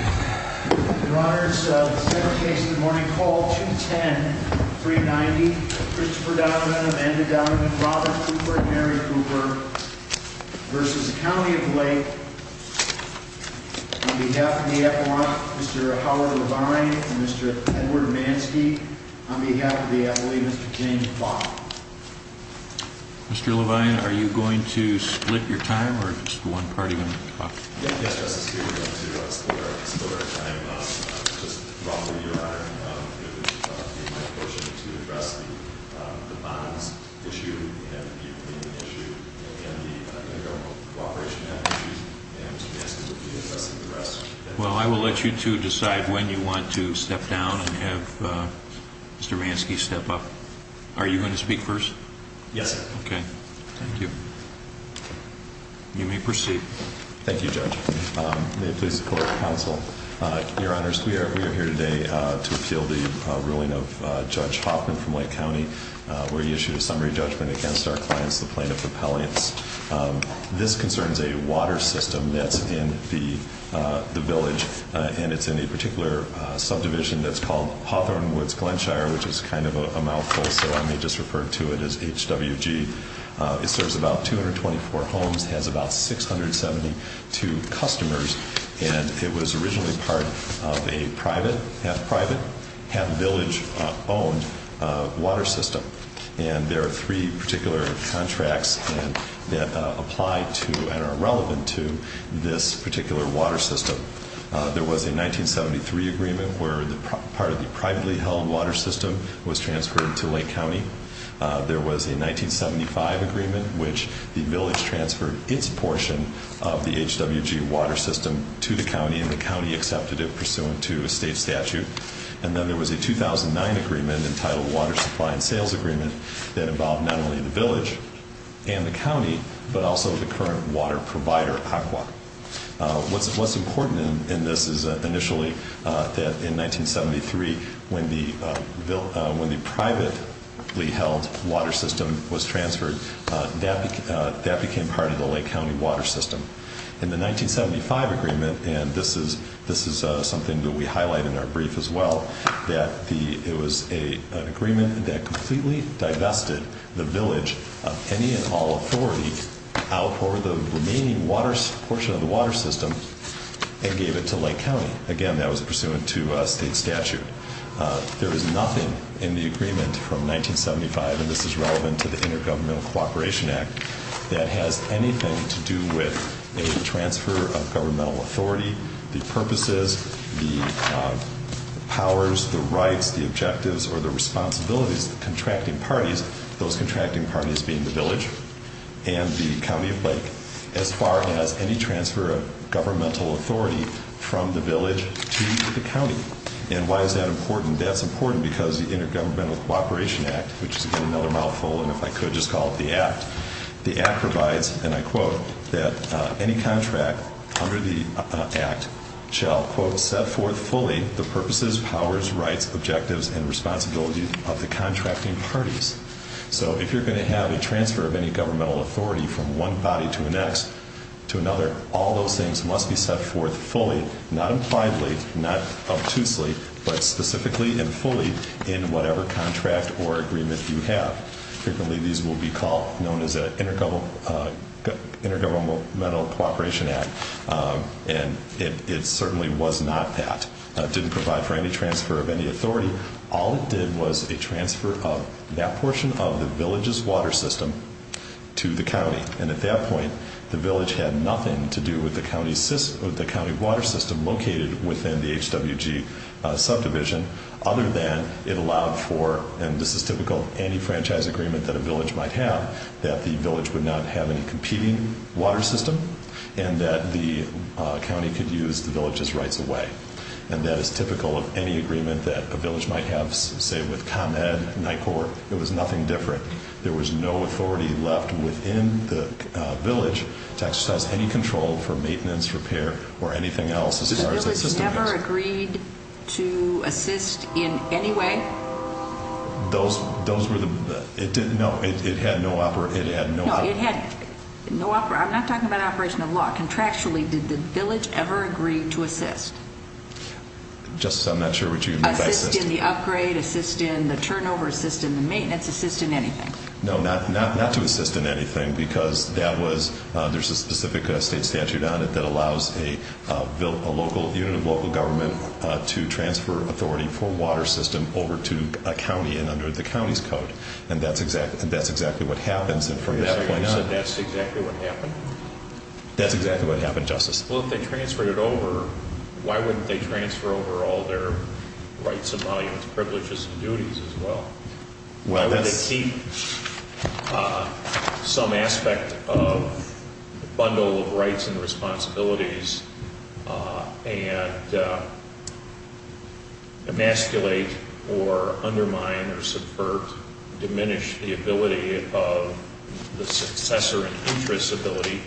Mr. Levine, are you going to split your time, or is just one party going to talk? Well, I will let you two decide when you want to step down and have Mr. Manski step up. Are you going to speak first? Yes. Okay. Thank you. You may proceed. Thank you, Judge. May it please the Court of Counsel? Your Honors, we are here today to appeal the ruling of Judge Hoffman from Lake County, where he issued a summary judgment against our clients, the plaintiff, the Pelliance. This concerns a water system that's in the village, and it's in a particular subdivision that's called Hawthorne Woods Glenshire, which is kind of a mouthful, so I may just refer to it as HWG. It serves about 224 homes, has about 672 customers, and it was originally part of a private, half-private, half-village-owned water system. And there are three particular contracts that apply to and are relevant to this particular water system. There was a 1973 agreement where part of the privately held water system was transferred to Lake County. There was a 1975 agreement in which the village transferred its portion of the HWG water system to the county, and the county accepted it pursuant to a state statute. And then there was a 2009 agreement entitled Water Supply and Sales Agreement that involved not only the village and the county, but also the current water provider, ACWA. What's important in this is initially that in 1973, when the privately held water system was transferred, that became part of the Lake County water system. In the 1975 agreement, and this is something that we highlight in our brief as well, that it was an agreement that completely divested the village of any and all authority out for the remaining portion of the water system and gave it to Lake County. Again, that was pursuant to a state statute. There is nothing in the agreement from 1975, and this is relevant to the Intergovernmental Cooperation Act, that has anything to do with a transfer of governmental authority, the purposes, the powers, the rights, the objectives, or the responsibilities of the contracting parties, being the village and the county of Lake, as far as any transfer of governmental authority from the village to the county. And why is that important? That's important because the Intergovernmental Cooperation Act, which is, again, another mouthful, and if I could just call it the Act, the Act provides, and I quote, that any contract under the Act shall, quote, set forth fully the purposes, powers, rights, objectives, and responsibilities of the contracting parties. So, if you're going to have a transfer of any governmental authority from one body to the next, to another, all those things must be set forth fully, not impliedly, not obtusely, but specifically and fully in whatever contract or agreement you have. Frequently, these will be called, known as the Intergovernmental Cooperation Act, and it certainly was not that. It didn't provide for any transfer of any authority. All it did was a transfer of that portion of the village's water system to the county. And at that point, the village had nothing to do with the county water system located within the HWG subdivision, other than it allowed for, and this is typical of any franchise agreement that a village might have, that the village would not have any competing water system, and that the county could use the village's rights away. And that is typical of any agreement that a village might have, say, with ComEd, NICOR. It was nothing different. There was no authority left within the village to exercise any control for maintenance, repair, or anything else as far as the system goes. The village never agreed to assist in any way? Those were the... No, it had no... No, it had no... I'm not talking about operation of law. Contractually, did the village ever agree to assist? Justice, I'm not sure what you mean by assist. Assist in the upgrade, assist in the turnover, assist in the maintenance, assist in anything. No, not to assist in anything, because that was... There's a specific state statute on it that allows a local unit of local government to transfer authority for water system over to a county and under the county's code. And that's exactly what happens from that point on. You said that's exactly what happened? That's exactly what happened, Justice. Well, if they transferred it over, why wouldn't they transfer over all their rights and volumes, privileges, and duties as well? Why would they keep some aspect of the bundle of rights and responsibilities and emasculate or undermine or subvert, diminish the ability of the successor and interest's ability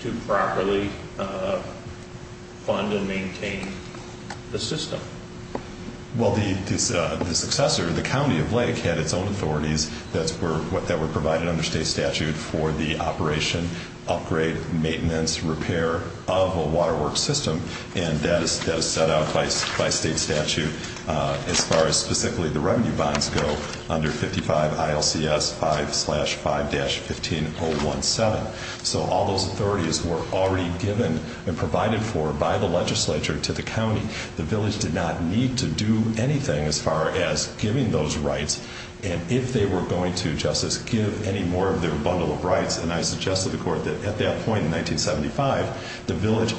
to properly fund and maintain the system? Well, the successor, the county of Lake, had its own authorities that were provided under state statute for the operation, upgrade, maintenance, repair of a waterworks system. And that is set out by state statute as far as specifically the revenue bonds go under 55 ILCS 5-5-15-017. So all those authorities were already given and provided for by the legislature to the county. The village did not need to do anything as far as giving those rights. And if they were going to, Justice, give any more of their bundle of rights, and I suggested to the court that at that point in 1975, the village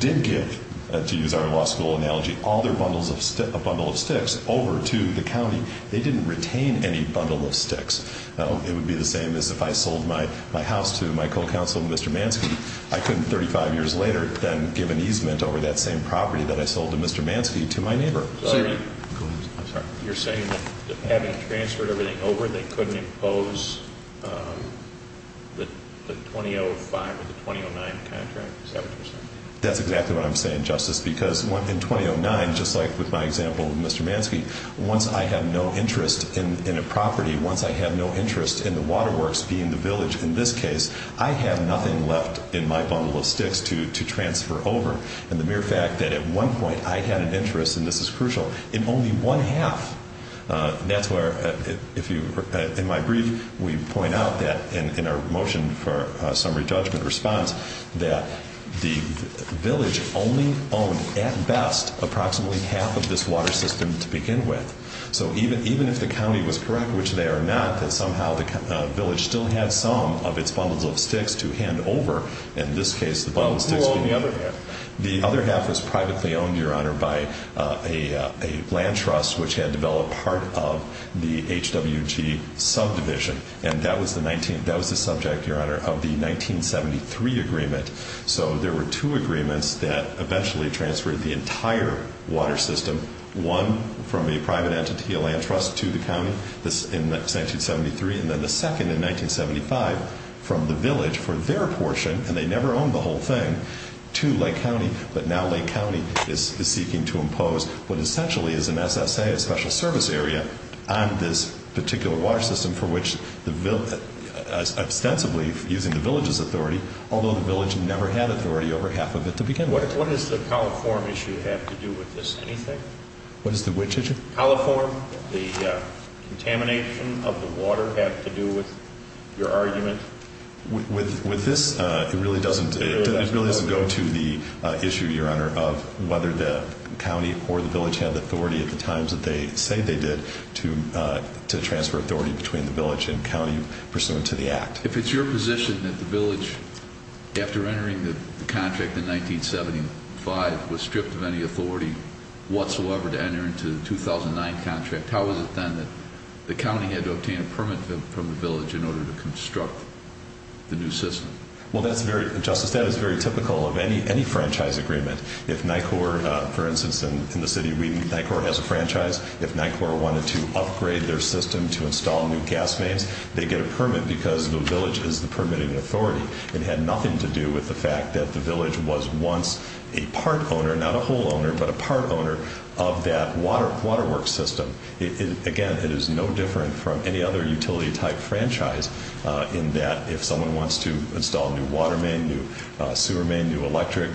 did give, to use our law school analogy, all their bundle of sticks over to the county. They didn't retain any bundle of sticks. It would be the same as if I sold my house to my co-counsel, Mr. Manski. I couldn't 35 years later then give an easement over that same property that I sold to Mr. Manski to my neighbor. You're saying that having transferred everything over, they couldn't impose the 2005 or the 2009 contract? Is that what you're saying? That's exactly what I'm saying, Justice. Because in 2009, just like with my example with Mr. Manski, once I had no interest in a property, once I had no interest in the waterworks being the village in this case, I had nothing left in my bundle of sticks to transfer over. And the mere fact that at one point I had an interest, and this is crucial, in only one half, that's where, in my brief, we point out that in our motion for summary judgment response, that the village only owned at best approximately half of this water system to begin with. So even if the county was correct, which they are not, that somehow the village still had some of its bundle of sticks to hand over, in this case the bundle of sticks to the other half. The other half was privately owned, Your Honor, by a land trust which had developed part of the HWG subdivision, and that was the subject, Your Honor, of the 1973 agreement. So there were two agreements that eventually transferred the entire water system, one from a private entity, a land trust, to the county in 1973, and then the second in 1975 from the village for their portion, and they never owned the whole thing, to Lake County, but now Lake County is seeking to impose what essentially is an SSA, a special service area, on this particular water system for which the, ostensibly using the village's authority, although the village never had authority over half of it to begin with. What does the coliform issue have to do with this? Anything? What is the which issue? The coliform, the contamination of the water, have to do with your argument? With this, it really doesn't go to the issue, Your Honor, of whether the county or the village had the authority at the times that they say they did to transfer authority between the village and county pursuant to the act. If it's your position that the village, after entering the contract in 1975, was stripped of any authority whatsoever to enter into the 2009 contract, how is it then that the county had to obtain a permit from the village in order to construct the new system? Well, that's very, Justice, that is very typical of any franchise agreement. If NICOR, for instance, in the city of Wheaton, NICOR has a franchise, if NICOR wanted to upgrade their system to install new gas mains, they get a permit because the village is the permitting authority. It had nothing to do with the fact that the village was once a part owner, not a whole owner, but a part owner of that water work system. Again, it is no different from any other utility type franchise in that if someone wants to install a new water main, new sewer main, new electric,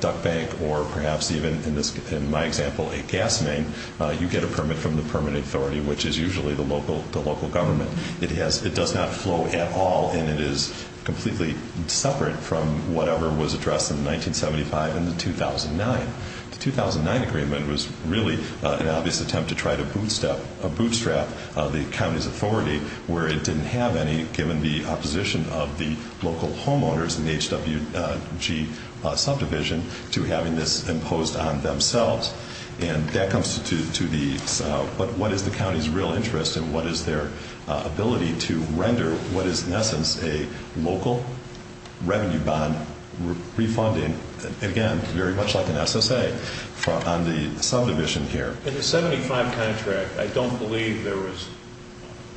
duct bank, or perhaps even, in my example, a gas main, you get a permit from the permitting authority, which is usually the local government. It does not flow at all, and it is completely separate from whatever was addressed in 1975 and the 2009. The 2009 agreement was really an obvious attempt to try to bootstrap the county's authority where it didn't have any, given the opposition of the local homeowners in the HWG subdivision to having this imposed on themselves. That comes to what is the county's real interest and what is their ability to render what is in essence a local revenue bond refunding, again, very much like an SSA on the subdivision here. In the 1975 contract, I don't believe there was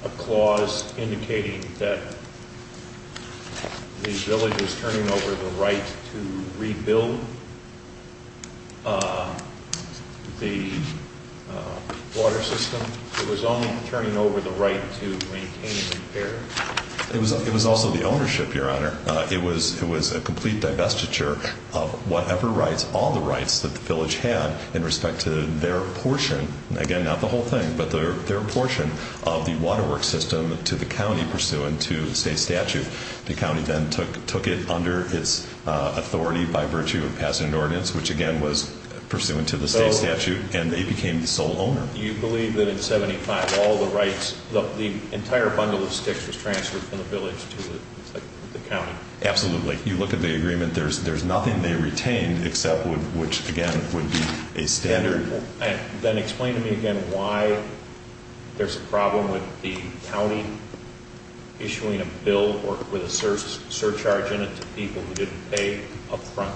a clause indicating that the village was the water system. It was only turning over the right to maintain and repair. It was also the ownership, Your Honor. It was a complete divestiture of whatever rights, all the rights, that the village had in respect to their portion, again, not the whole thing, but their portion of the water work system to the county pursuant to state statute. The county then took it under its authority by virtue of passing an ordinance, which again was pursuant to the state statute, and they became the sole owner. You believe that in 1975, all the rights, the entire bundle of sticks was transferred from the village to the county? Absolutely. You look at the agreement, there's nothing they retained except which, again, would be a standard. Then explain to me again why there's a problem with the county issuing a bill with a surcharge in it to people who didn't pay up front.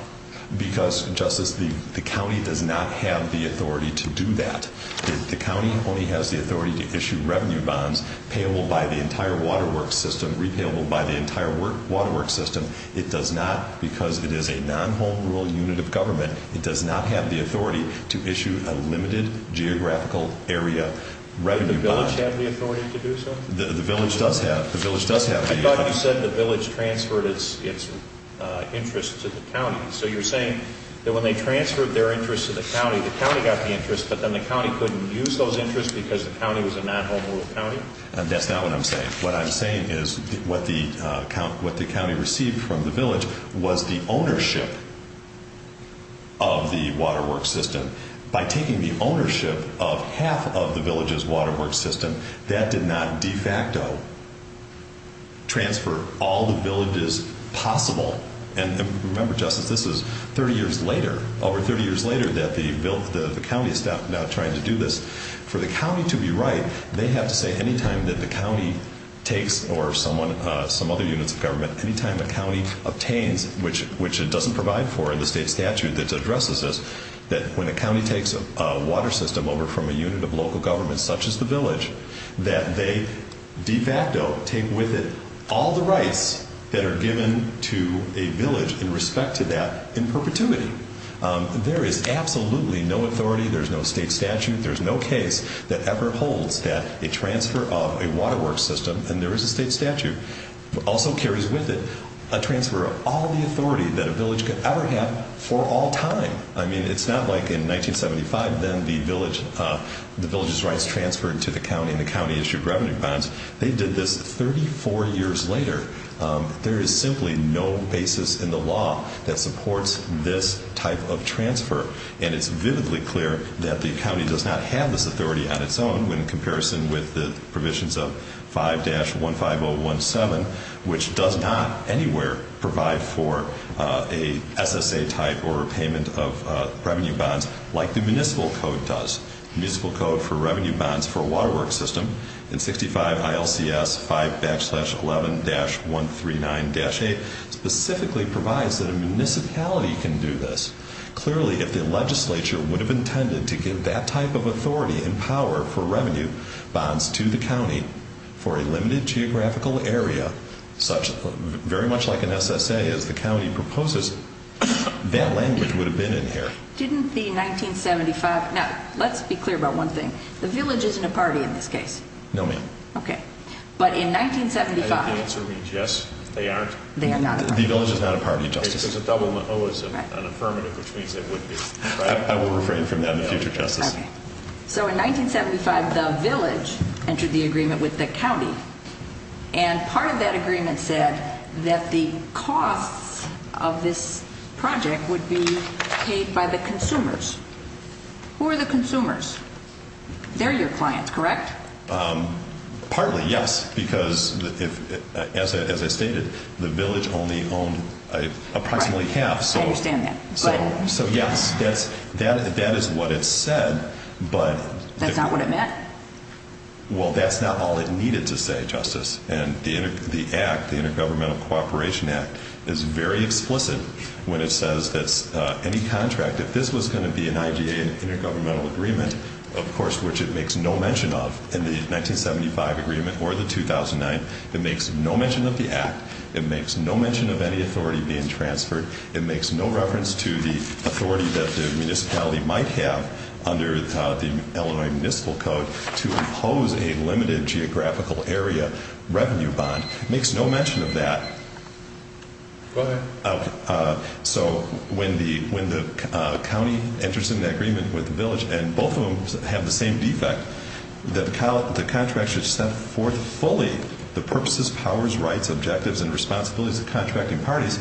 Because, Justice, the county does not have the authority to do that. The county only has the authority to issue revenue bonds payable by the entire water work system, repayable by the entire water work system. It does not, because it is a non-home rule unit of government, it does not have the authority to issue a limited geographical area revenue bond. Did the village have the authority to do so? The village does have the authority. I thought you said the village transferred its interest to the county. So you're saying that when they transferred their interest to the county, the county got the interest, but then the county couldn't use those interests because the county was a non-home rule county? That's not what I'm saying. What I'm saying is what the county received from the village was the ownership of the water work system. By taking the ownership of half of the village's water work system, that did not de facto transfer all the villages possible. And remember, Justice, this is 30 years later, over 30 years later that the county is now trying to do this. For the county to be right, they have to say any time that the county takes, or some other units of government, any time the county obtains, which it doesn't provide for in the state statute that addresses this, that when the county takes a water system over from a unit of local government such as the village, that they de facto take with it all the rights that are given to a village in respect to that in perpetuity. There is absolutely no authority, there's no state statute, there's no case that ever holds that a transfer of a water work system, and there is a state statute, also carries with it a transfer of all the authority that a village could ever have for all time. I mean, it's not like in 1975, then the village's rights transferred to the county and the county issued revenue bonds. They did this 34 years later. There is simply no basis in the law that supports this type of transfer. And it's vividly clear that the county does not have this authority on its own when in fact the county does not anywhere provide for a SSA type or a payment of revenue bonds like the municipal code does. The municipal code for revenue bonds for a water work system in 65 ILCS 5-11-139-8 specifically provides that a municipality can do this. Clearly, if the legislature would have intended to give that type of authority and power for very much like an SSA, as the county proposes, that language would have been in here. Didn't the 1975, now let's be clear about one thing. The village isn't a party in this case. No ma'am. Okay. But in 1975. I think the answer means yes, they aren't. They are not a party. The village is not a party, Justice. Because a double O is an affirmative, which means they would be. I will refrain from that in the future, Justice. Okay. So in 1975, the village entered the agreement with the county. And part of that agreement said that the costs of this project would be paid by the consumers. Who are the consumers? They're your clients, correct? Partly, yes. Because as I stated, the village only owned approximately half. I understand that. So yes, that is what it said. That's not what it meant? Well, that's not all it needed to say, Justice. And the act, the Intergovernmental Cooperation Act, is very explicit when it says that any contract, if this was going to be an IGA intergovernmental agreement, of course, which it makes no mention of, in the 1975 agreement or the 2009, it makes no mention of the act. It makes no mention of any authority being transferred. It makes no reference to the authority that the municipality might have under the Illinois Municipal Code to impose a limited geographical area revenue bond. It makes no mention of that. Go ahead. So when the county enters into an agreement with the village, and both of them have the same defect, that the contract should set forth fully the purposes, powers, rights, objectives, and responsibilities of contracting parties,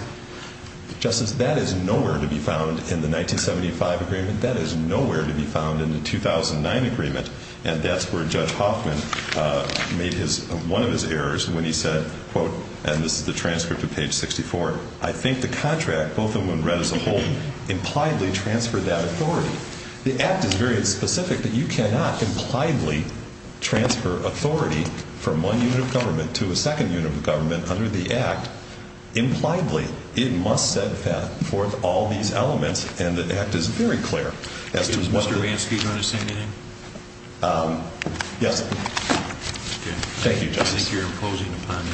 Justice, that is nowhere to be found in the 1975 agreement. That is nowhere to be found in the 2009 agreement. And that's where Judge Hoffman made one of his errors when he said, quote, and this is the transcript of page 64, I think the contract, both of them when read as a whole, impliedly transferred that authority. The act is very specific that you cannot impliedly transfer authority from one unit of government to a second unit of government under the act. Impliedly, it must set forth all these elements, and the act is very clear as to what the Mr. Ransky, do you want to say anything? Yes. Thank you, Justice. I think you're imposing upon him.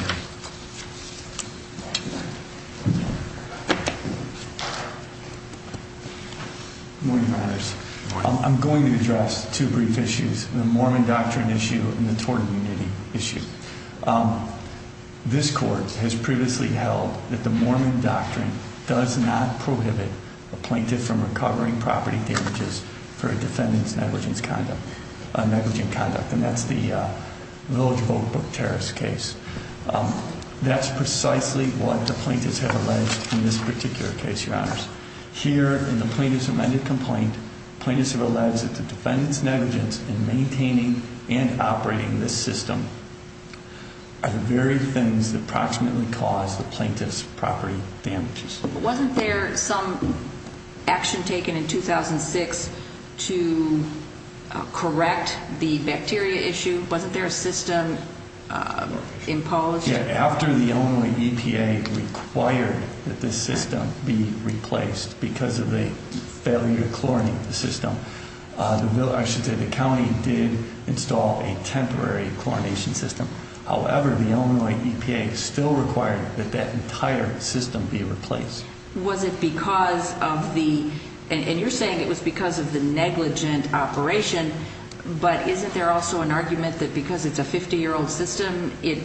Good morning, Your Honors. Good morning. I'm going to address two brief issues, the Mormon doctrine issue and the tort immunity issue. This court has previously held that the Mormon doctrine does not prohibit a plaintiff from recovering property damages for a defendant's negligent conduct, and that's the Village Vote Book terrorist case. That's precisely what the plaintiffs have alleged in this particular case, Your Honors. Here in the plaintiff's amended complaint, plaintiffs have alleged that the defendant's negligence in maintaining and operating this system are the very things that approximately cause the plaintiff's property damages. Wasn't there some action taken in 2006 to correct the bacteria issue? Wasn't there a system imposed? After the Illinois EPA required that this system be replaced because of the failure to chlorinate the system, I should say the county did install a temporary chlorination system. However, the Illinois EPA still required that that entire system be replaced. Was it because of the, and you're saying it was because of the negligent operation, but isn't there also an it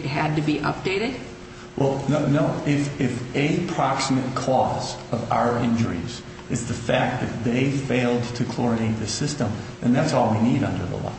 had to be updated? Well, no, if a proximate cause of our injuries is the fact that they failed to chlorinate the system, then that's all we need under the law.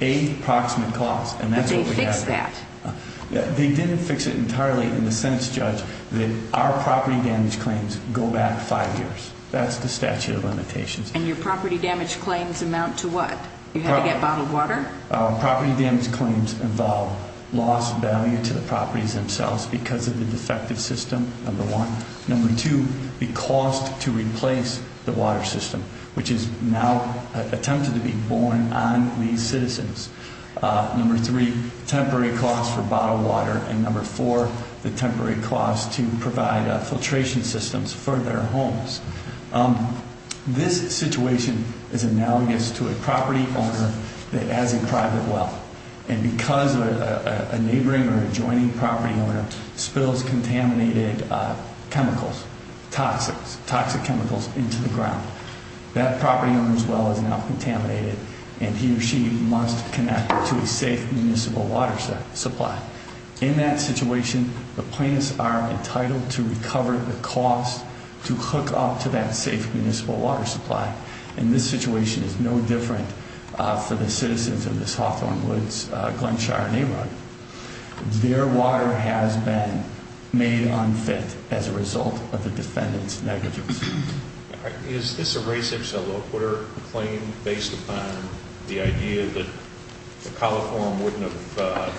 A proximate cause, and that's what we have to do. But they fixed that. They didn't fix it entirely in the sense, Judge, that our property damage claims go back five years. That's the statute of limitations. And your property damage claims amount to what? You had to get bottled water? Our property damage claims involve loss of value to the properties themselves because of the defective system, number one. Number two, the cost to replace the water system, which is now attempted to be borne on these citizens. Number three, temporary cost for bottled water. And number four, the temporary cost to provide filtration systems for their homes. This situation is analogous to a property owner that has a private well. And because a neighboring or adjoining property owner spills contaminated chemicals, toxic chemicals, into the ground, that property owner's well is now contaminated, and he or she must connect it to a safe municipal water supply. In that situation, the plaintiffs are entitled to recover the cost to hook up to that safe municipal water supply. And this situation is no different for the citizens of this Hawthorne Woods Glen Shire neighborhood. Their water has been made unfit as a result of the defendant's negligence. Is this a race of cellulocator claim based upon the idea that the coliform wouldn't have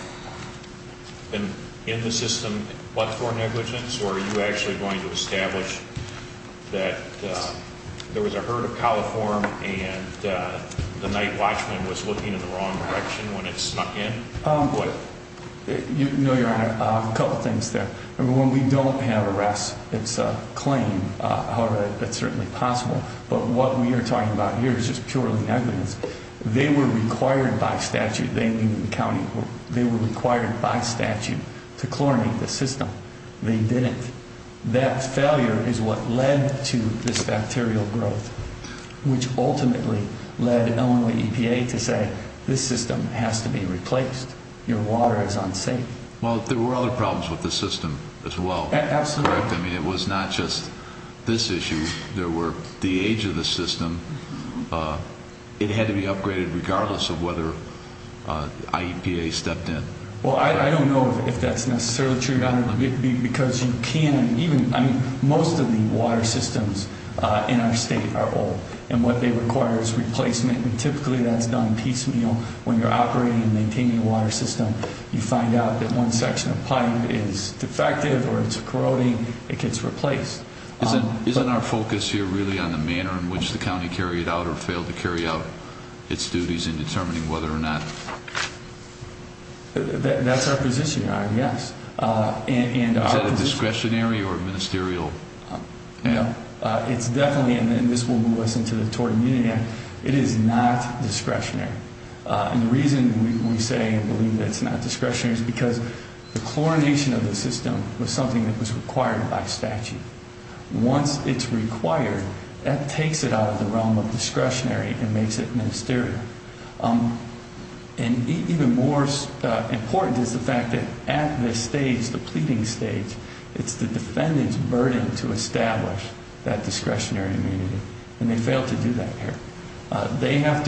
been in the system, but for negligence? Or are you actually going to establish that there was a herd of coliform and the night watchman was looking in the wrong direction when it snuck in? You know, Your Honor, a couple things there. When we don't have arrests, it's a claim. However, that's certainly possible. But what we are talking about here is just purely negligence. They were required by statute, they in the county, they were required by statute to chlorinate the system. They didn't. That failure is what led to this bacterial growth, which ultimately led Illinois EPA to say this system has to be replaced. Your water is unsafe. Well, there were other problems with the system as well. Absolutely. I mean, it was not just this issue. There were the age of the system. It had to be upgraded regardless of whether IEPA stepped in. Well, I don't know if that's necessarily true, Your Honor. Because you can't even, I mean, most of the water systems in our state are old. And what they require is replacement. And typically that's done piecemeal when you're operating and maintaining a water system. You find out that one section of pipe is defective or it's corroding, it gets replaced. Isn't our focus here really on the manner in which the county carried out or failed to carry out its duties in determining whether or not? That's our position, Your Honor, yes. Is that a discretionary or ministerial? No. It's definitely, and this will move us into the tort immunity act, it is not discretionary. And the reason we say and believe that it's not discretionary is because the chlorination of the system was something that was required by statute. Once it's required, that takes it out of the realm of discretionary and makes it ministerial. And even more important is the fact that at this stage, the pleading stage, it's the defendant's burden to establish that discretionary immunity. And they failed to do that here. They have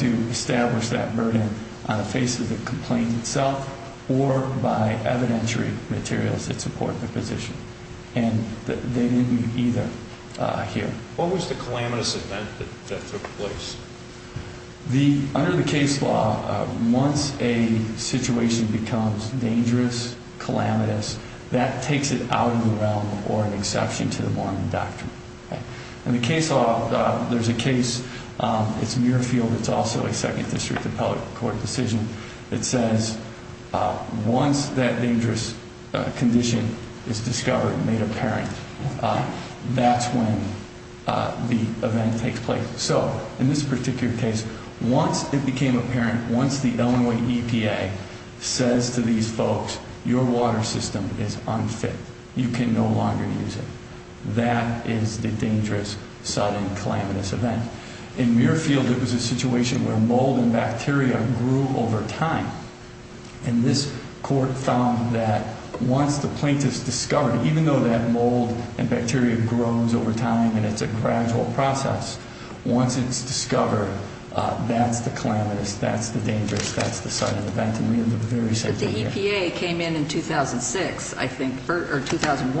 to establish that burden on the face of the complaint itself or by evidentiary materials that support the position. And they didn't either here. What was the calamitous event that took place? Under the case law, once a situation becomes dangerous, calamitous, that takes it out of the realm or an exception to the warning doctrine. In the case law, there's a case, it's Muirfield, it's also a second district of public court decision. It says once that dangerous condition is discovered and made apparent, that's when the event takes place. So in this particular case, once it became apparent, once the Illinois EPA says to these folks, your water system is unfit, you can no longer use it. That is the dangerous, sudden, calamitous event. In Muirfield, it was a situation where mold and bacteria grew over time. And this court found that once the plaintiff's discovered, even though that mold and bacteria grows over time and it's a gradual process, once it's discovered, that's the calamitous, that's the dangerous, that's the sudden event. But the EPA came in in 2006, I think, or 2000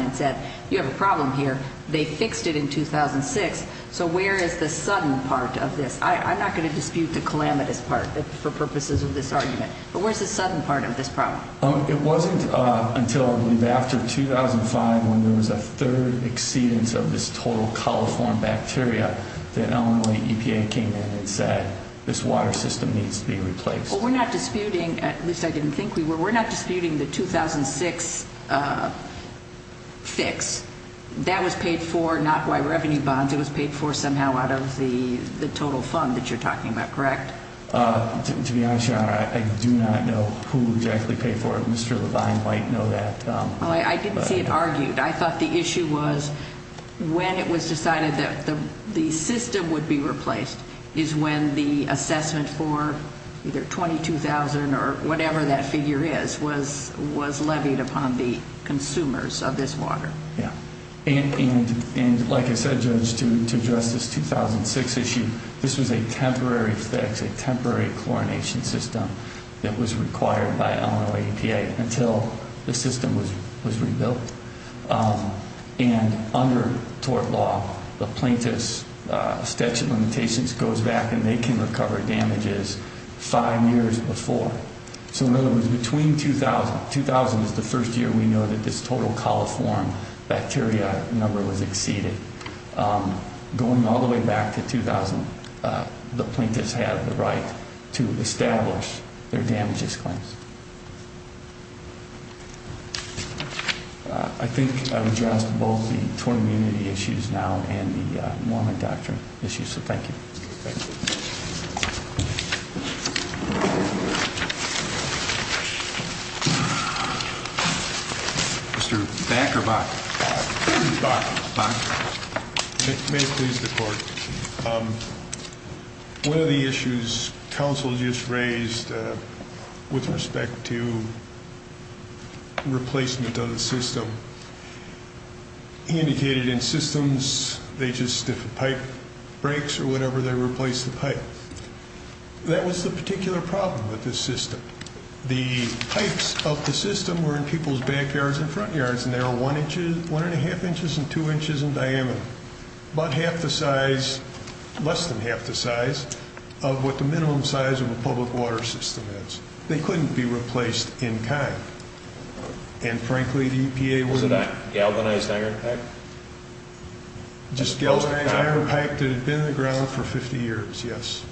and said, you have a problem here. They fixed it in 2006. So where is the sudden part of this? I'm not going to dispute the calamitous part for purposes of this argument. But where's the sudden part of this problem? It wasn't until, I believe, after 2005 when there was a third exceedance of this total coliform bacteria that Illinois EPA came in and said, this water system needs to be replaced. Well, we're not disputing, at least I didn't think we were, we're not disputing the 2006 fix. That was paid for not by revenue bonds. It was paid for somehow out of the total fund that you're talking about, correct? To be honest, Your Honor, I do not know who exactly paid for it. Mr. Levine might know that. I didn't see it argued. I thought the issue was when it was decided that the system would be replaced is when the assessment for either $22,000 or whatever that figure is was levied upon the consumers of this water. And like I said, Judge, to address this 2006 issue, this was a temporary fix, a temporary chlorination system that was required by Illinois EPA until the system was rebuilt. And under tort law, the plaintiff's statute of limitations goes back and they can recover damages five years before. So in other words, between 2000, 2000 is the first year we know that this total coliform bacteria number was exceeded. Going all the way back to 2000, the plaintiffs have the right to establish their damages claims. I think I've addressed both the tort immunity issues now and the Mormon doctrine issues, so thank you. Mr. Back or Bach? Bach. May it please the court. One of the issues counsel just raised with respect to replacement of the system, he indicated in systems they just, if a pipe breaks or whatever, they replace the pipe. That was the particular problem with this system. The pipes of the system were in people's backyards and front yards and they were one and a half inches and two inches in diameter. About half the size, less than half the size of what the minimum size of a public water system is. They couldn't be replaced in kind. And frankly, the EPA wouldn't- Was it a galvanized iron pipe? Galvanized iron pipe that had been in the ground for 50 years, yes.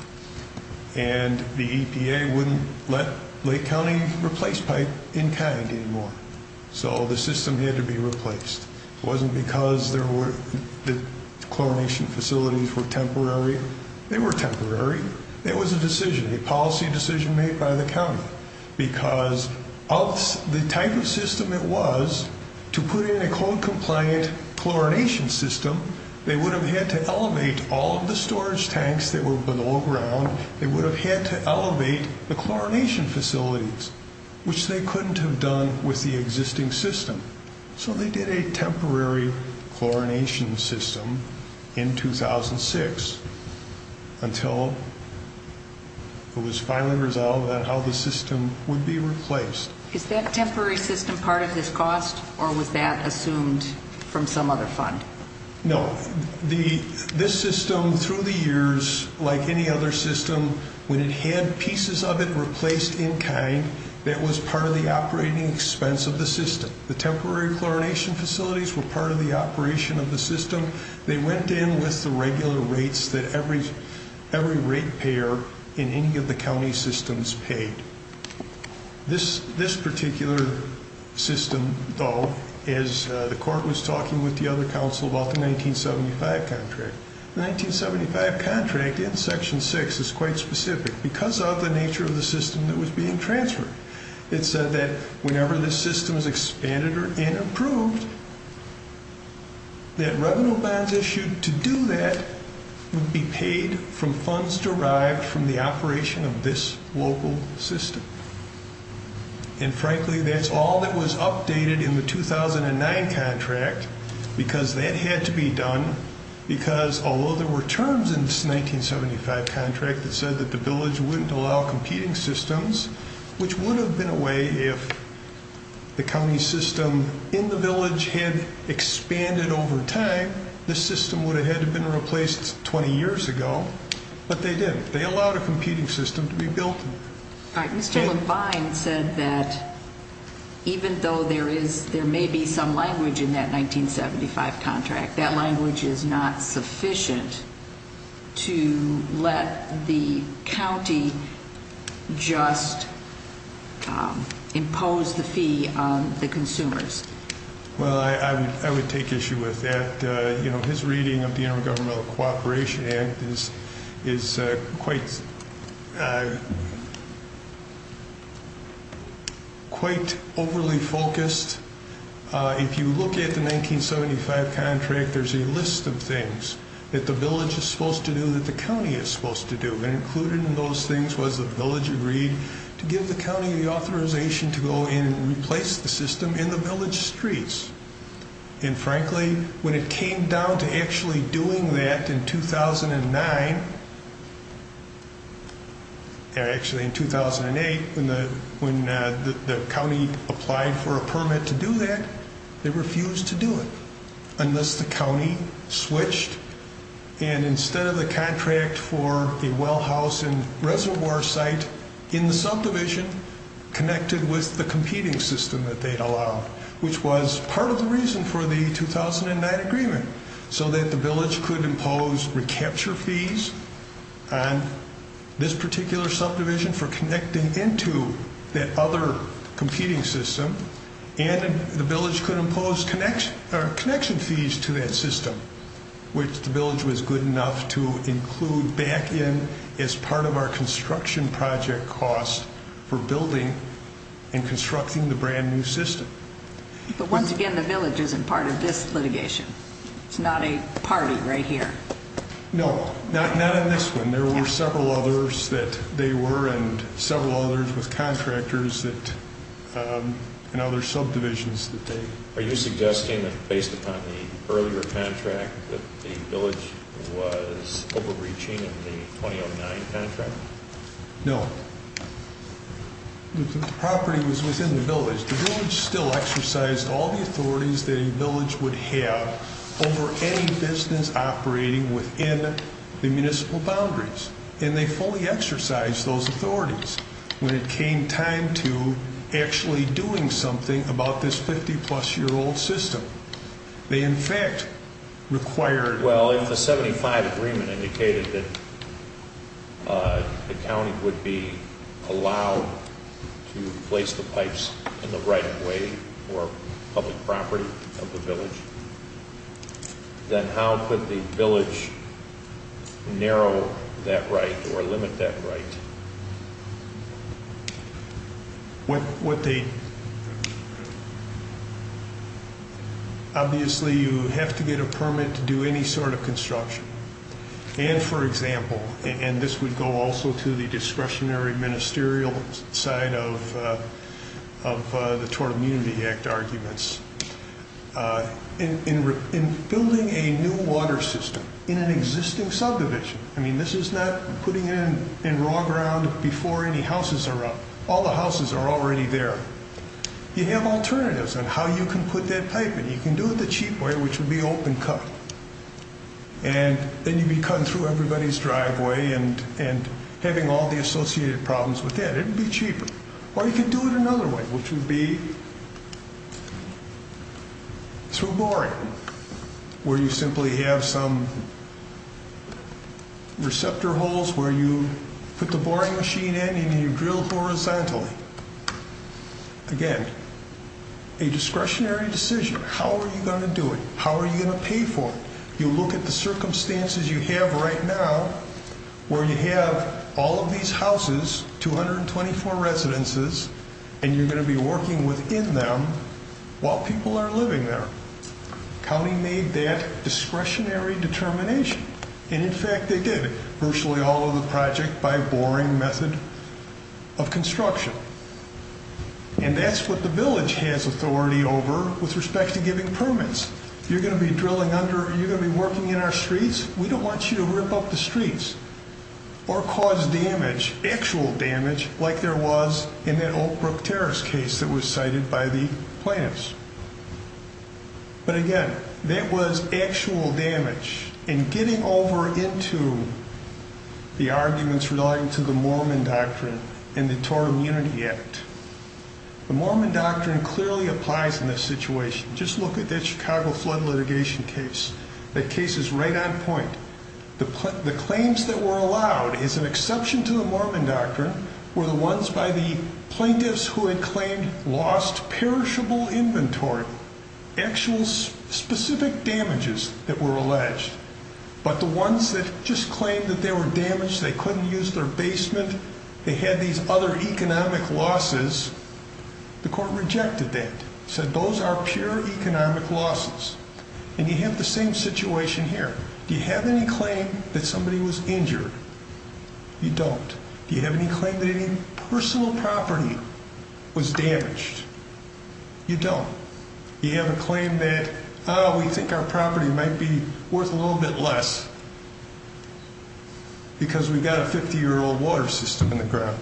And the EPA wouldn't let Lake County replace pipe in kind anymore. So the system had to be replaced. It wasn't because the chlorination facilities were temporary. They were temporary. It was a decision, a policy decision made by the county. Because of the type of system it was, to put in a code-compliant chlorination system, they would have had to elevate all of the storage tanks that were below ground. They would have had to elevate the chlorination facilities, which they couldn't have done with the existing system. So they did a temporary chlorination system in 2006 until it was finally resolved on how the system would be replaced. Is that temporary system part of this cost or was that assumed from some other fund? No. This system, through the years, like any other system, when it had pieces of it replaced in kind, that was part of the operating expense of the system. The temporary chlorination facilities were part of the operation of the system. They went in with the regular rates that every rate payer in any of the county systems paid. This particular system, though, as the court was talking with the other counsel about the 1975 contract, the 1975 contract in Section 6 is quite specific because of the nature of the system that was being transferred. It said that whenever this system is expanded and approved, that revenue bonds issued to do that would be paid from funds derived from the operation of this local system. And, frankly, that's all that was updated in the 2009 contract because that had to be done, because although there were terms in this 1975 contract that said that the village wouldn't allow competing systems, which would have been a way if the county system in the village had expanded over time, the system would have had to have been replaced 20 years ago, but they didn't. They allowed a competing system to be built. Mr. Levine said that even though there may be some language in that 1975 contract, that language is not sufficient to let the county just impose the fee on the consumers. Well, I would take issue with that. His reading of the Intergovernmental Cooperation Act is quite overly focused. If you look at the 1975 contract, there's a list of things that the village is supposed to do that the county is supposed to do. Included in those things was the village agreed to give the county the authorization to go and replace the system in the village streets. And, frankly, when it came down to actually doing that in 2009, actually in 2008 when the county applied for a permit to do that, they refused to do it unless the county switched. And instead of the contract for a well house and reservoir site in the subdivision connected with the competing system that they'd allowed, which was part of the reason for the 2009 agreement, so that the village could impose recapture fees on this particular subdivision for connecting into that other competing system, and the village could impose connection fees to that system, which the village was good enough to include back in as part of our construction project cost for building and constructing the brand new system. But once again, the village isn't part of this litigation. It's not a party right here. No, not in this one. There were several others that they were, and several others with contractors and other subdivisions that they... Are you suggesting that based upon the earlier contract that the village was overreaching in the 2009 contract? No. The property was within the village. The village still exercised all the authorities that a village would have over any business operating within the municipal boundaries. And they fully exercised those authorities. When it came time to actually doing something about this 50-plus-year-old system, they in fact required... Well, if the 75 agreement indicated that the county would be allowed to place the pipes in the right way for public property of the village, then how could the village narrow that right or limit that right? Obviously, you have to get a permit to do any sort of construction. And for example, and this would go also to the discretionary ministerial side of the Tort Immunity Act arguments, in building a new water system in an existing subdivision... I mean, this is not putting it in raw ground before any houses are up. All the houses are already there. You have alternatives on how you can put that pipe in. You can do it the cheap way, which would be open cut. And then you'd be cutting through everybody's driveway and having all the associated problems with that. It would be cheaper. Or you can do it another way, which would be through boring, where you simply have some receptor holes where you put the boring machine in and you drill horizontally. Again, a discretionary decision. How are you going to do it? How are you going to pay for it? You look at the circumstances you have right now, where you have all of these houses, 224 residences, and you're going to be working within them while people are living there. County made that discretionary determination. And in fact, they did. Virtually all of the project by boring method of construction. And that's what the village has authority over with respect to giving permits. You're going to be drilling under, you're going to be working in our streets. We don't want you to rip up the streets or cause damage, actual damage, like there was in that Oak Brook Terrace case that was cited by the plaintiffs. But again, that was actual damage. And getting over into the arguments relating to the Mormon doctrine and the Torah Immunity Act. The Mormon doctrine clearly applies in this situation. Just look at that Chicago flood litigation case. That case is right on point. The claims that were allowed, as an exception to the Mormon doctrine, were the ones by the plaintiffs who had claimed lost perishable inventory. Actual specific damages that were alleged. But the ones that just claimed that they were damaged, they couldn't use their basement, they had these other economic losses, the court rejected that. Said those are pure economic losses. And you have the same situation here. Do you have any claim that somebody was injured? You don't. Do you have any claim that any personal property was damaged? You don't. Do you have a claim that, oh, we think our property might be worth a little bit less because we've got a 50-year-old water system in the ground?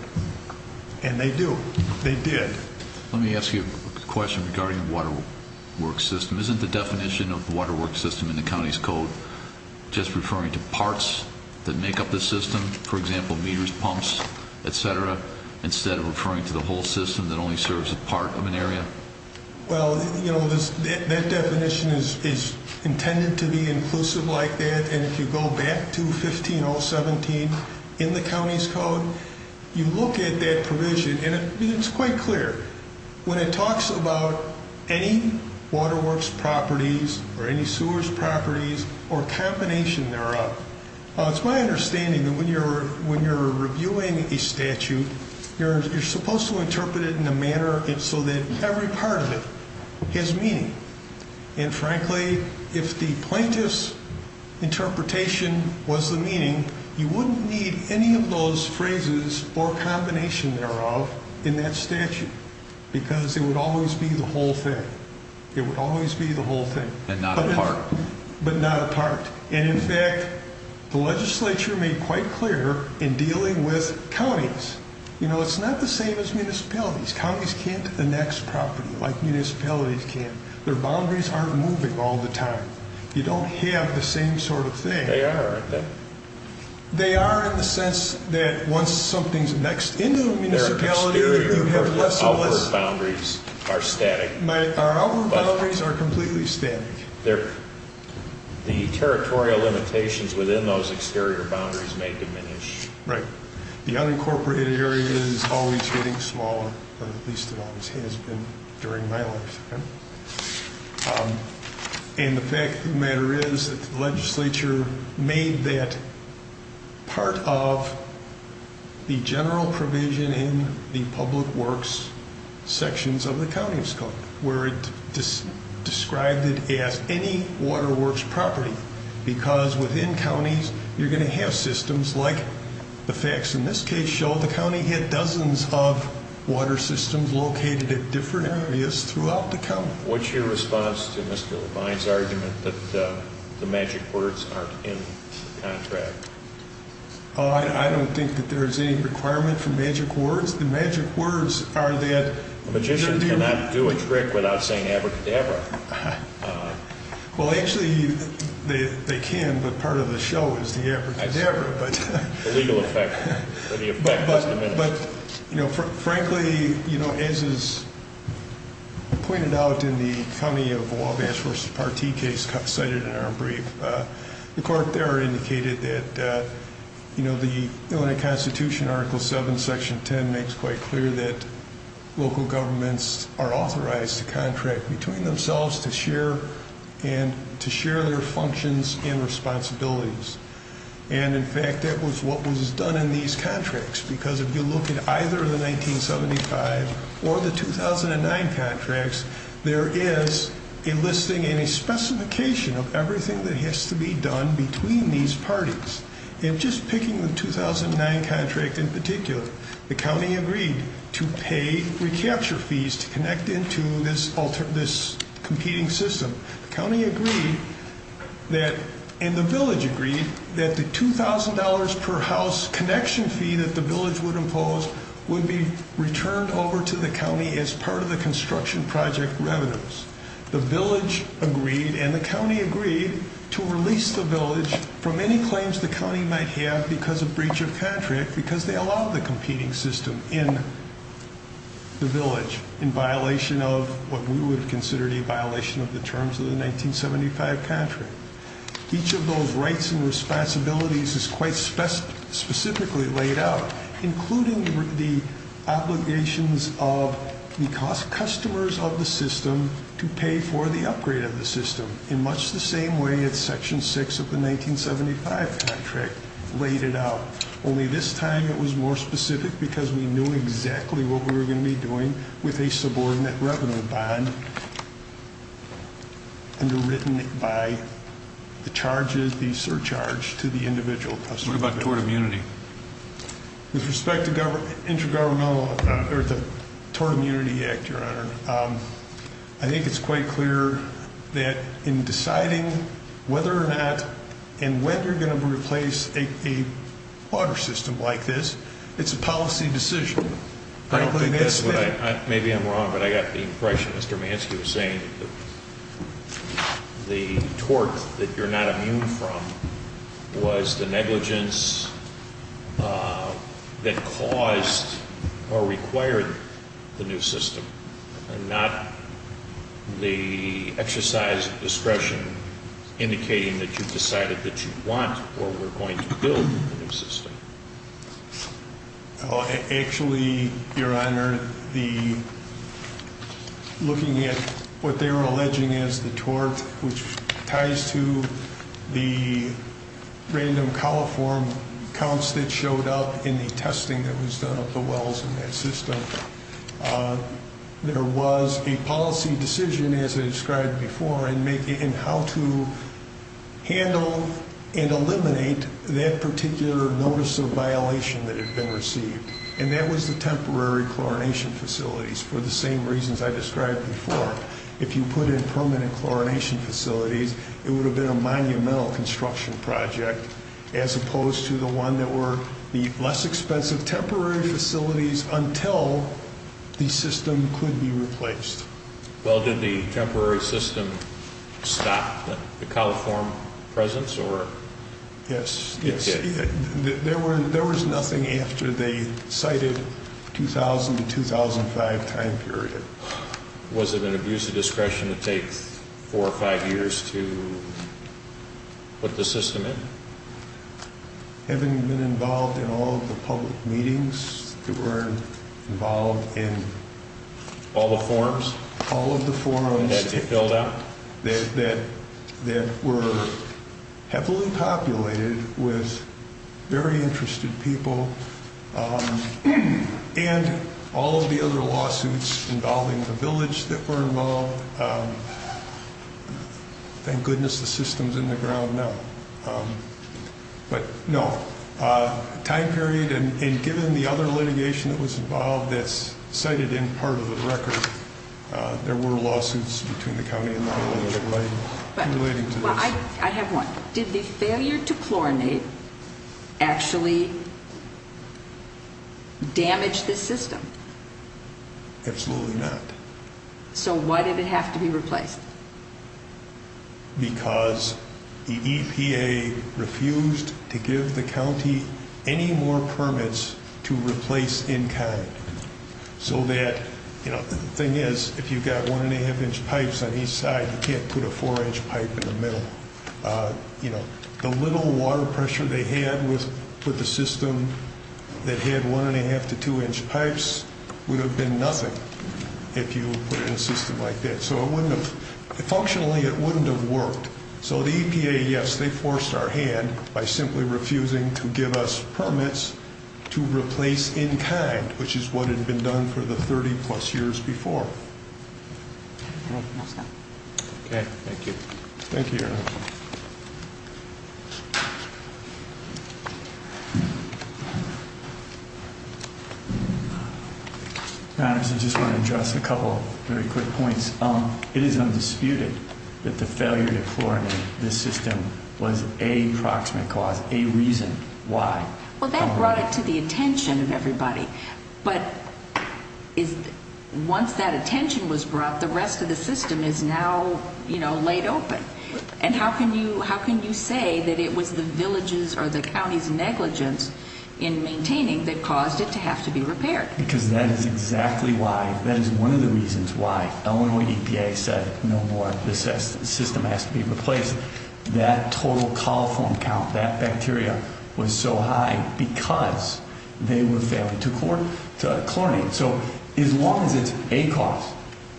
And they do. They did. Let me ask you a question regarding the water work system. Isn't the definition of the water work system in the county's code just referring to parts that make up the system, for example, meters, pumps, et cetera, instead of referring to the whole system that only serves a part of an area? Well, you know, that definition is intended to be inclusive like that, and if you go back to 15017 in the county's code, you look at that provision, and it's quite clear. When it talks about any water works properties or any sewers properties or combination thereof, it's my understanding that when you're reviewing a statute, you're supposed to interpret it in a manner so that every part of it has meaning. And frankly, if the plaintiff's interpretation was the meaning, you wouldn't need any of those phrases or combination thereof in that statute because it would always be the whole thing. It would always be the whole thing. But not a part. But not a part. And in fact, the legislature made quite clear in dealing with counties, you know, it's not the same as municipalities. Counties can't annex property like municipalities can. Their boundaries aren't moving all the time. You don't have the same sort of thing. They are, aren't they? They are in the sense that once something's next in the municipality, you have less and less. Our boundaries are static. Our boundaries are completely static. The territorial limitations within those exterior boundaries may diminish. Right. The unincorporated area is always getting smaller, or at least it always has been during my lifetime. And the fact of the matter is that the legislature made that part of the general provision in the public works sections of the county scope, where it described it as any water works property because within counties you're going to have systems like the facts in this case show. Well, the county had dozens of water systems located at different areas throughout the county. What's your response to Mr. Levine's argument that the magic words aren't in the contract? I don't think that there is any requirement for magic words. The magic words are that they're nearby. A magician cannot do a trick without saying abracadabra. Well, actually, they can, but part of the show is the abracadabra. The legal effect of the effect is diminished. But, frankly, as is pointed out in the county of Wabash versus Partee case cited in our brief, the court there indicated that the Illinois Constitution, Article 7, Section 10, makes quite clear that local governments are authorized to contract between themselves to share their functions and responsibilities. And, in fact, that was what was done in these contracts because if you look at either the 1975 or the 2009 contracts, there is a listing and a specification of everything that has to be done between these parties. And just picking the 2009 contract in particular, the county agreed to pay recapture fees to connect into this competing system. The county agreed and the village agreed that the $2,000 per house connection fee that the village would impose would be returned over to the county as part of the construction project revenues. The village agreed and the county agreed to release the village from any claims the county might have because of breach of contract because they allowed the competing system in the village in violation of what we would have considered a violation of the terms of the 1975 contract. Each of those rights and responsibilities is quite specifically laid out, including the obligations of the customers of the system to pay for the upgrade of the system in much the same way as Section 6 of the 1975 contract laid it out, only this time it was more specific because we knew exactly what we were going to be doing with a subordinate revenue bond underwritten by the charges, the surcharge to the individual customer. What about tort immunity? With respect to the Tort Immunity Act, Your Honor, I think it's quite clear that in deciding whether or not and when you're going to replace a water system like this, it's a policy decision. Frankly, that's what I think. Maybe I'm wrong, but I got the impression Mr. Manski was saying that the tort that you're not immune from was the negligence that caused or required the new system and not the exercise of discretion indicating that you decided that you want or were going to build a new system. Actually, Your Honor, looking at what they were alleging as the tort, which ties to the random coliform counts that showed up in the testing that was done of the wells in that system, there was a policy decision, as I described before, in how to handle and eliminate that particular notice of violation that had been received, and that was the temporary chlorination facilities for the same reasons I described before. If you put in permanent chlorination facilities, it would have been a monumental construction project as opposed to the one that were the less expensive temporary facilities until the system could be replaced. Well, did the temporary system stop the coliform presence? Yes. There was nothing after they cited 2000 to 2005 time period. Was it an abuse of discretion to take four or five years to put the system in? Having been involved in all of the public meetings, we were involved in all of the forums that were heavily populated with very interested people, and all of the other lawsuits involving the village that were involved. Thank goodness the system's in the ground now. But no, time period and given the other litigation that was involved that's cited in part of the record, there were lawsuits between the county and the village relating to this. I have one. Did the failure to chlorinate actually damage the system? Absolutely not. So why did it have to be replaced? Because the EPA refused to give the county any more permits to replace in kind. The thing is, if you've got one-and-a-half-inch pipes on each side, you can't put a four-inch pipe in the middle. The little water pressure they had with the system that had one-and-a-half to two-inch pipes would have been nothing if you put it in a system like that. So functionally, it wouldn't have worked. So the EPA, yes, they forced our hand by simply refusing to give us permits to replace in kind, which is what had been done for the 30-plus years before. Okay, thank you. Thank you, Your Honor. Your Honors, I just want to address a couple of very quick points. It is undisputed that the failure to chlorinate this system was a proximate cause, a reason why. Well, that brought it to the attention of everybody. But once that attention was brought, the rest of the system is now, you know, laid open. And how can you say that it was the village's or the county's negligence in maintaining that caused it to have to be repaired? Because that is exactly why, that is one of the reasons why Illinois EPA said no more, this system has to be replaced. Because that total coliform count, that bacteria was so high because they were failing to chlorinate. So as long as it's a cause,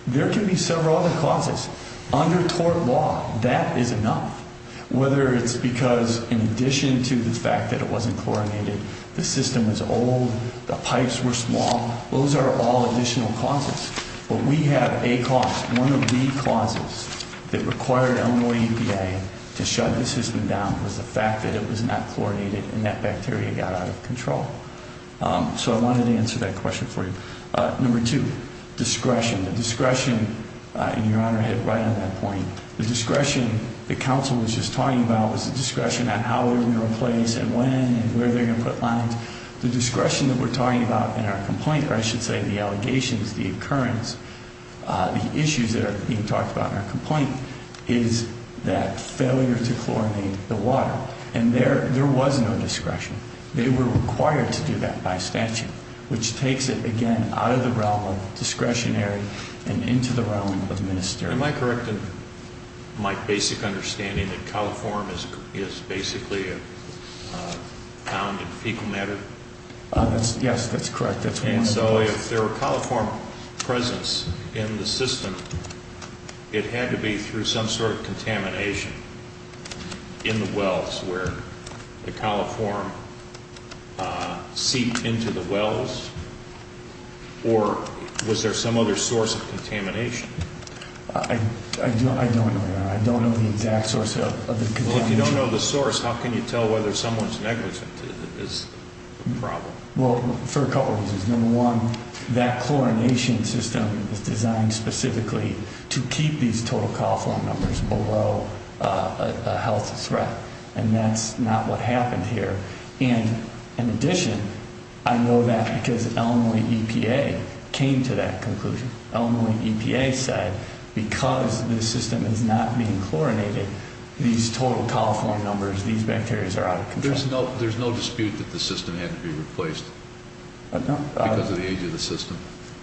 there can be several other causes. Under tort law, that is enough, whether it's because in addition to the fact that it wasn't chlorinated, the system is old, the pipes were small, those are all additional causes. But we have a cause, one of the causes that required Illinois EPA to shut this system down was the fact that it was not chlorinated and that bacteria got out of control. So I wanted to answer that question for you. Number two, discretion. The discretion, and Your Honor hit right on that point, the discretion that counsel was just talking about was the discretion on how they were going to replace and when and where they were going to put lines. The discretion that we're talking about in our complaint, or I should say the allegations, the occurrence, the issues that are being talked about in our complaint is that failure to chlorinate the water. And there was no discretion. They were required to do that by statute, which takes it again out of the realm of discretionary and into the realm of ministerial. Am I correct in my basic understanding that coliform is basically found in fecal matter? Yes, that's correct. And so if there were coliform presence in the system, it had to be through some sort of contamination in the wells where the coliform seeped into the wells? Or was there some other source of contamination? I don't know, Your Honor. I don't know the exact source of the contamination. Well, if you don't know the source, how can you tell whether someone's negligent is the problem? Well, for a couple of reasons. Number one, that chlorination system is designed specifically to keep these total coliform numbers below a health threat. And that's not what happened here. And in addition, I know that because Illinois EPA came to that conclusion. Illinois EPA said because this system is not being chlorinated, these total coliform numbers, these bacteria are out of control. There's no dispute that the system had to be replaced because of the age of the system?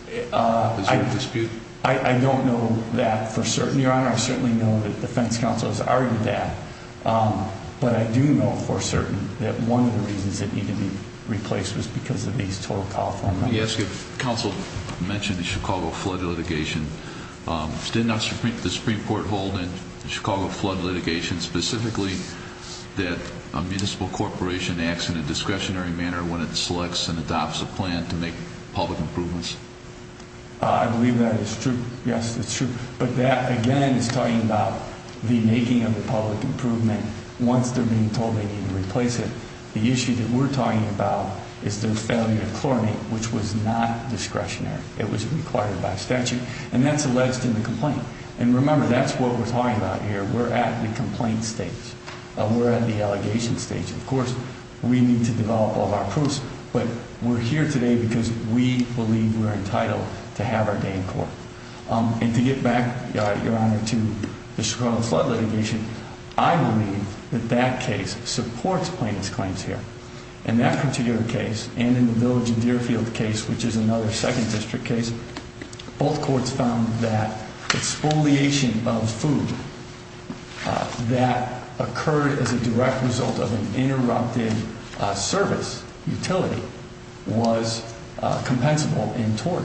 Is there a dispute? I don't know that for certain, Your Honor. I certainly know that defense counsel has argued that. But I do know for certain that one of the reasons it needed to be replaced was because of these total coliform numbers. Let me ask you, counsel mentioned the Chicago flood litigation. Did the Supreme Court hold in the Chicago flood litigation specifically that a municipal corporation acts in a discretionary manner when it selects and adopts a plan to make public improvements? I believe that is true. Yes, it's true. But that, again, is talking about the making of the public improvement once they're being told they need to replace it. The issue that we're talking about is the failure to chlorinate, which was not discretionary. It was required by statute. And that's alleged in the complaint. And remember, that's what we're talking about here. We're at the complaint stage. We're at the allegation stage. Of course, we need to develop all of our proofs. And to get back, Your Honor, to the Chicago flood litigation, I believe that that case supports plaintiff's claims here. In that particular case and in the Village and Deerfield case, which is another 2nd District case, both courts found that exfoliation of food that occurred as a direct result of an interrupted service utility was compensable in tort.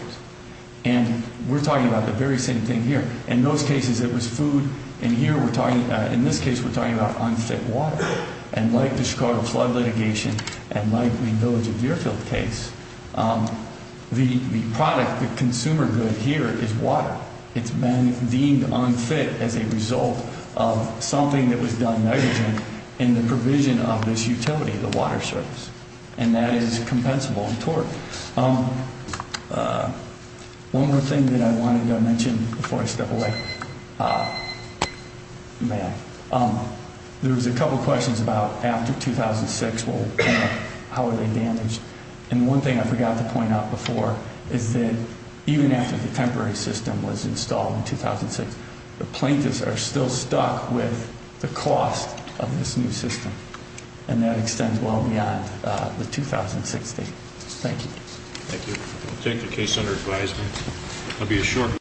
And we're talking about the very same thing here. In those cases, it was food. In this case, we're talking about unfit water. And like the Chicago flood litigation and like the Village and Deerfield case, the product, the consumer good here is water. It's been deemed unfit as a result of something that was done, nitrogen, in the provision of this utility, the water service. And that is compensable in tort. One more thing that I wanted to mention before I step away. There was a couple of questions about after 2006, how are they damaged. And one thing I forgot to point out before is that even after the temporary system was installed in 2006, the plaintiffs are still stuck with the cost of this new system. And that extends well beyond the 2006 date. Thank you. Thank you. We'll take the case under advisement. I'll be assured.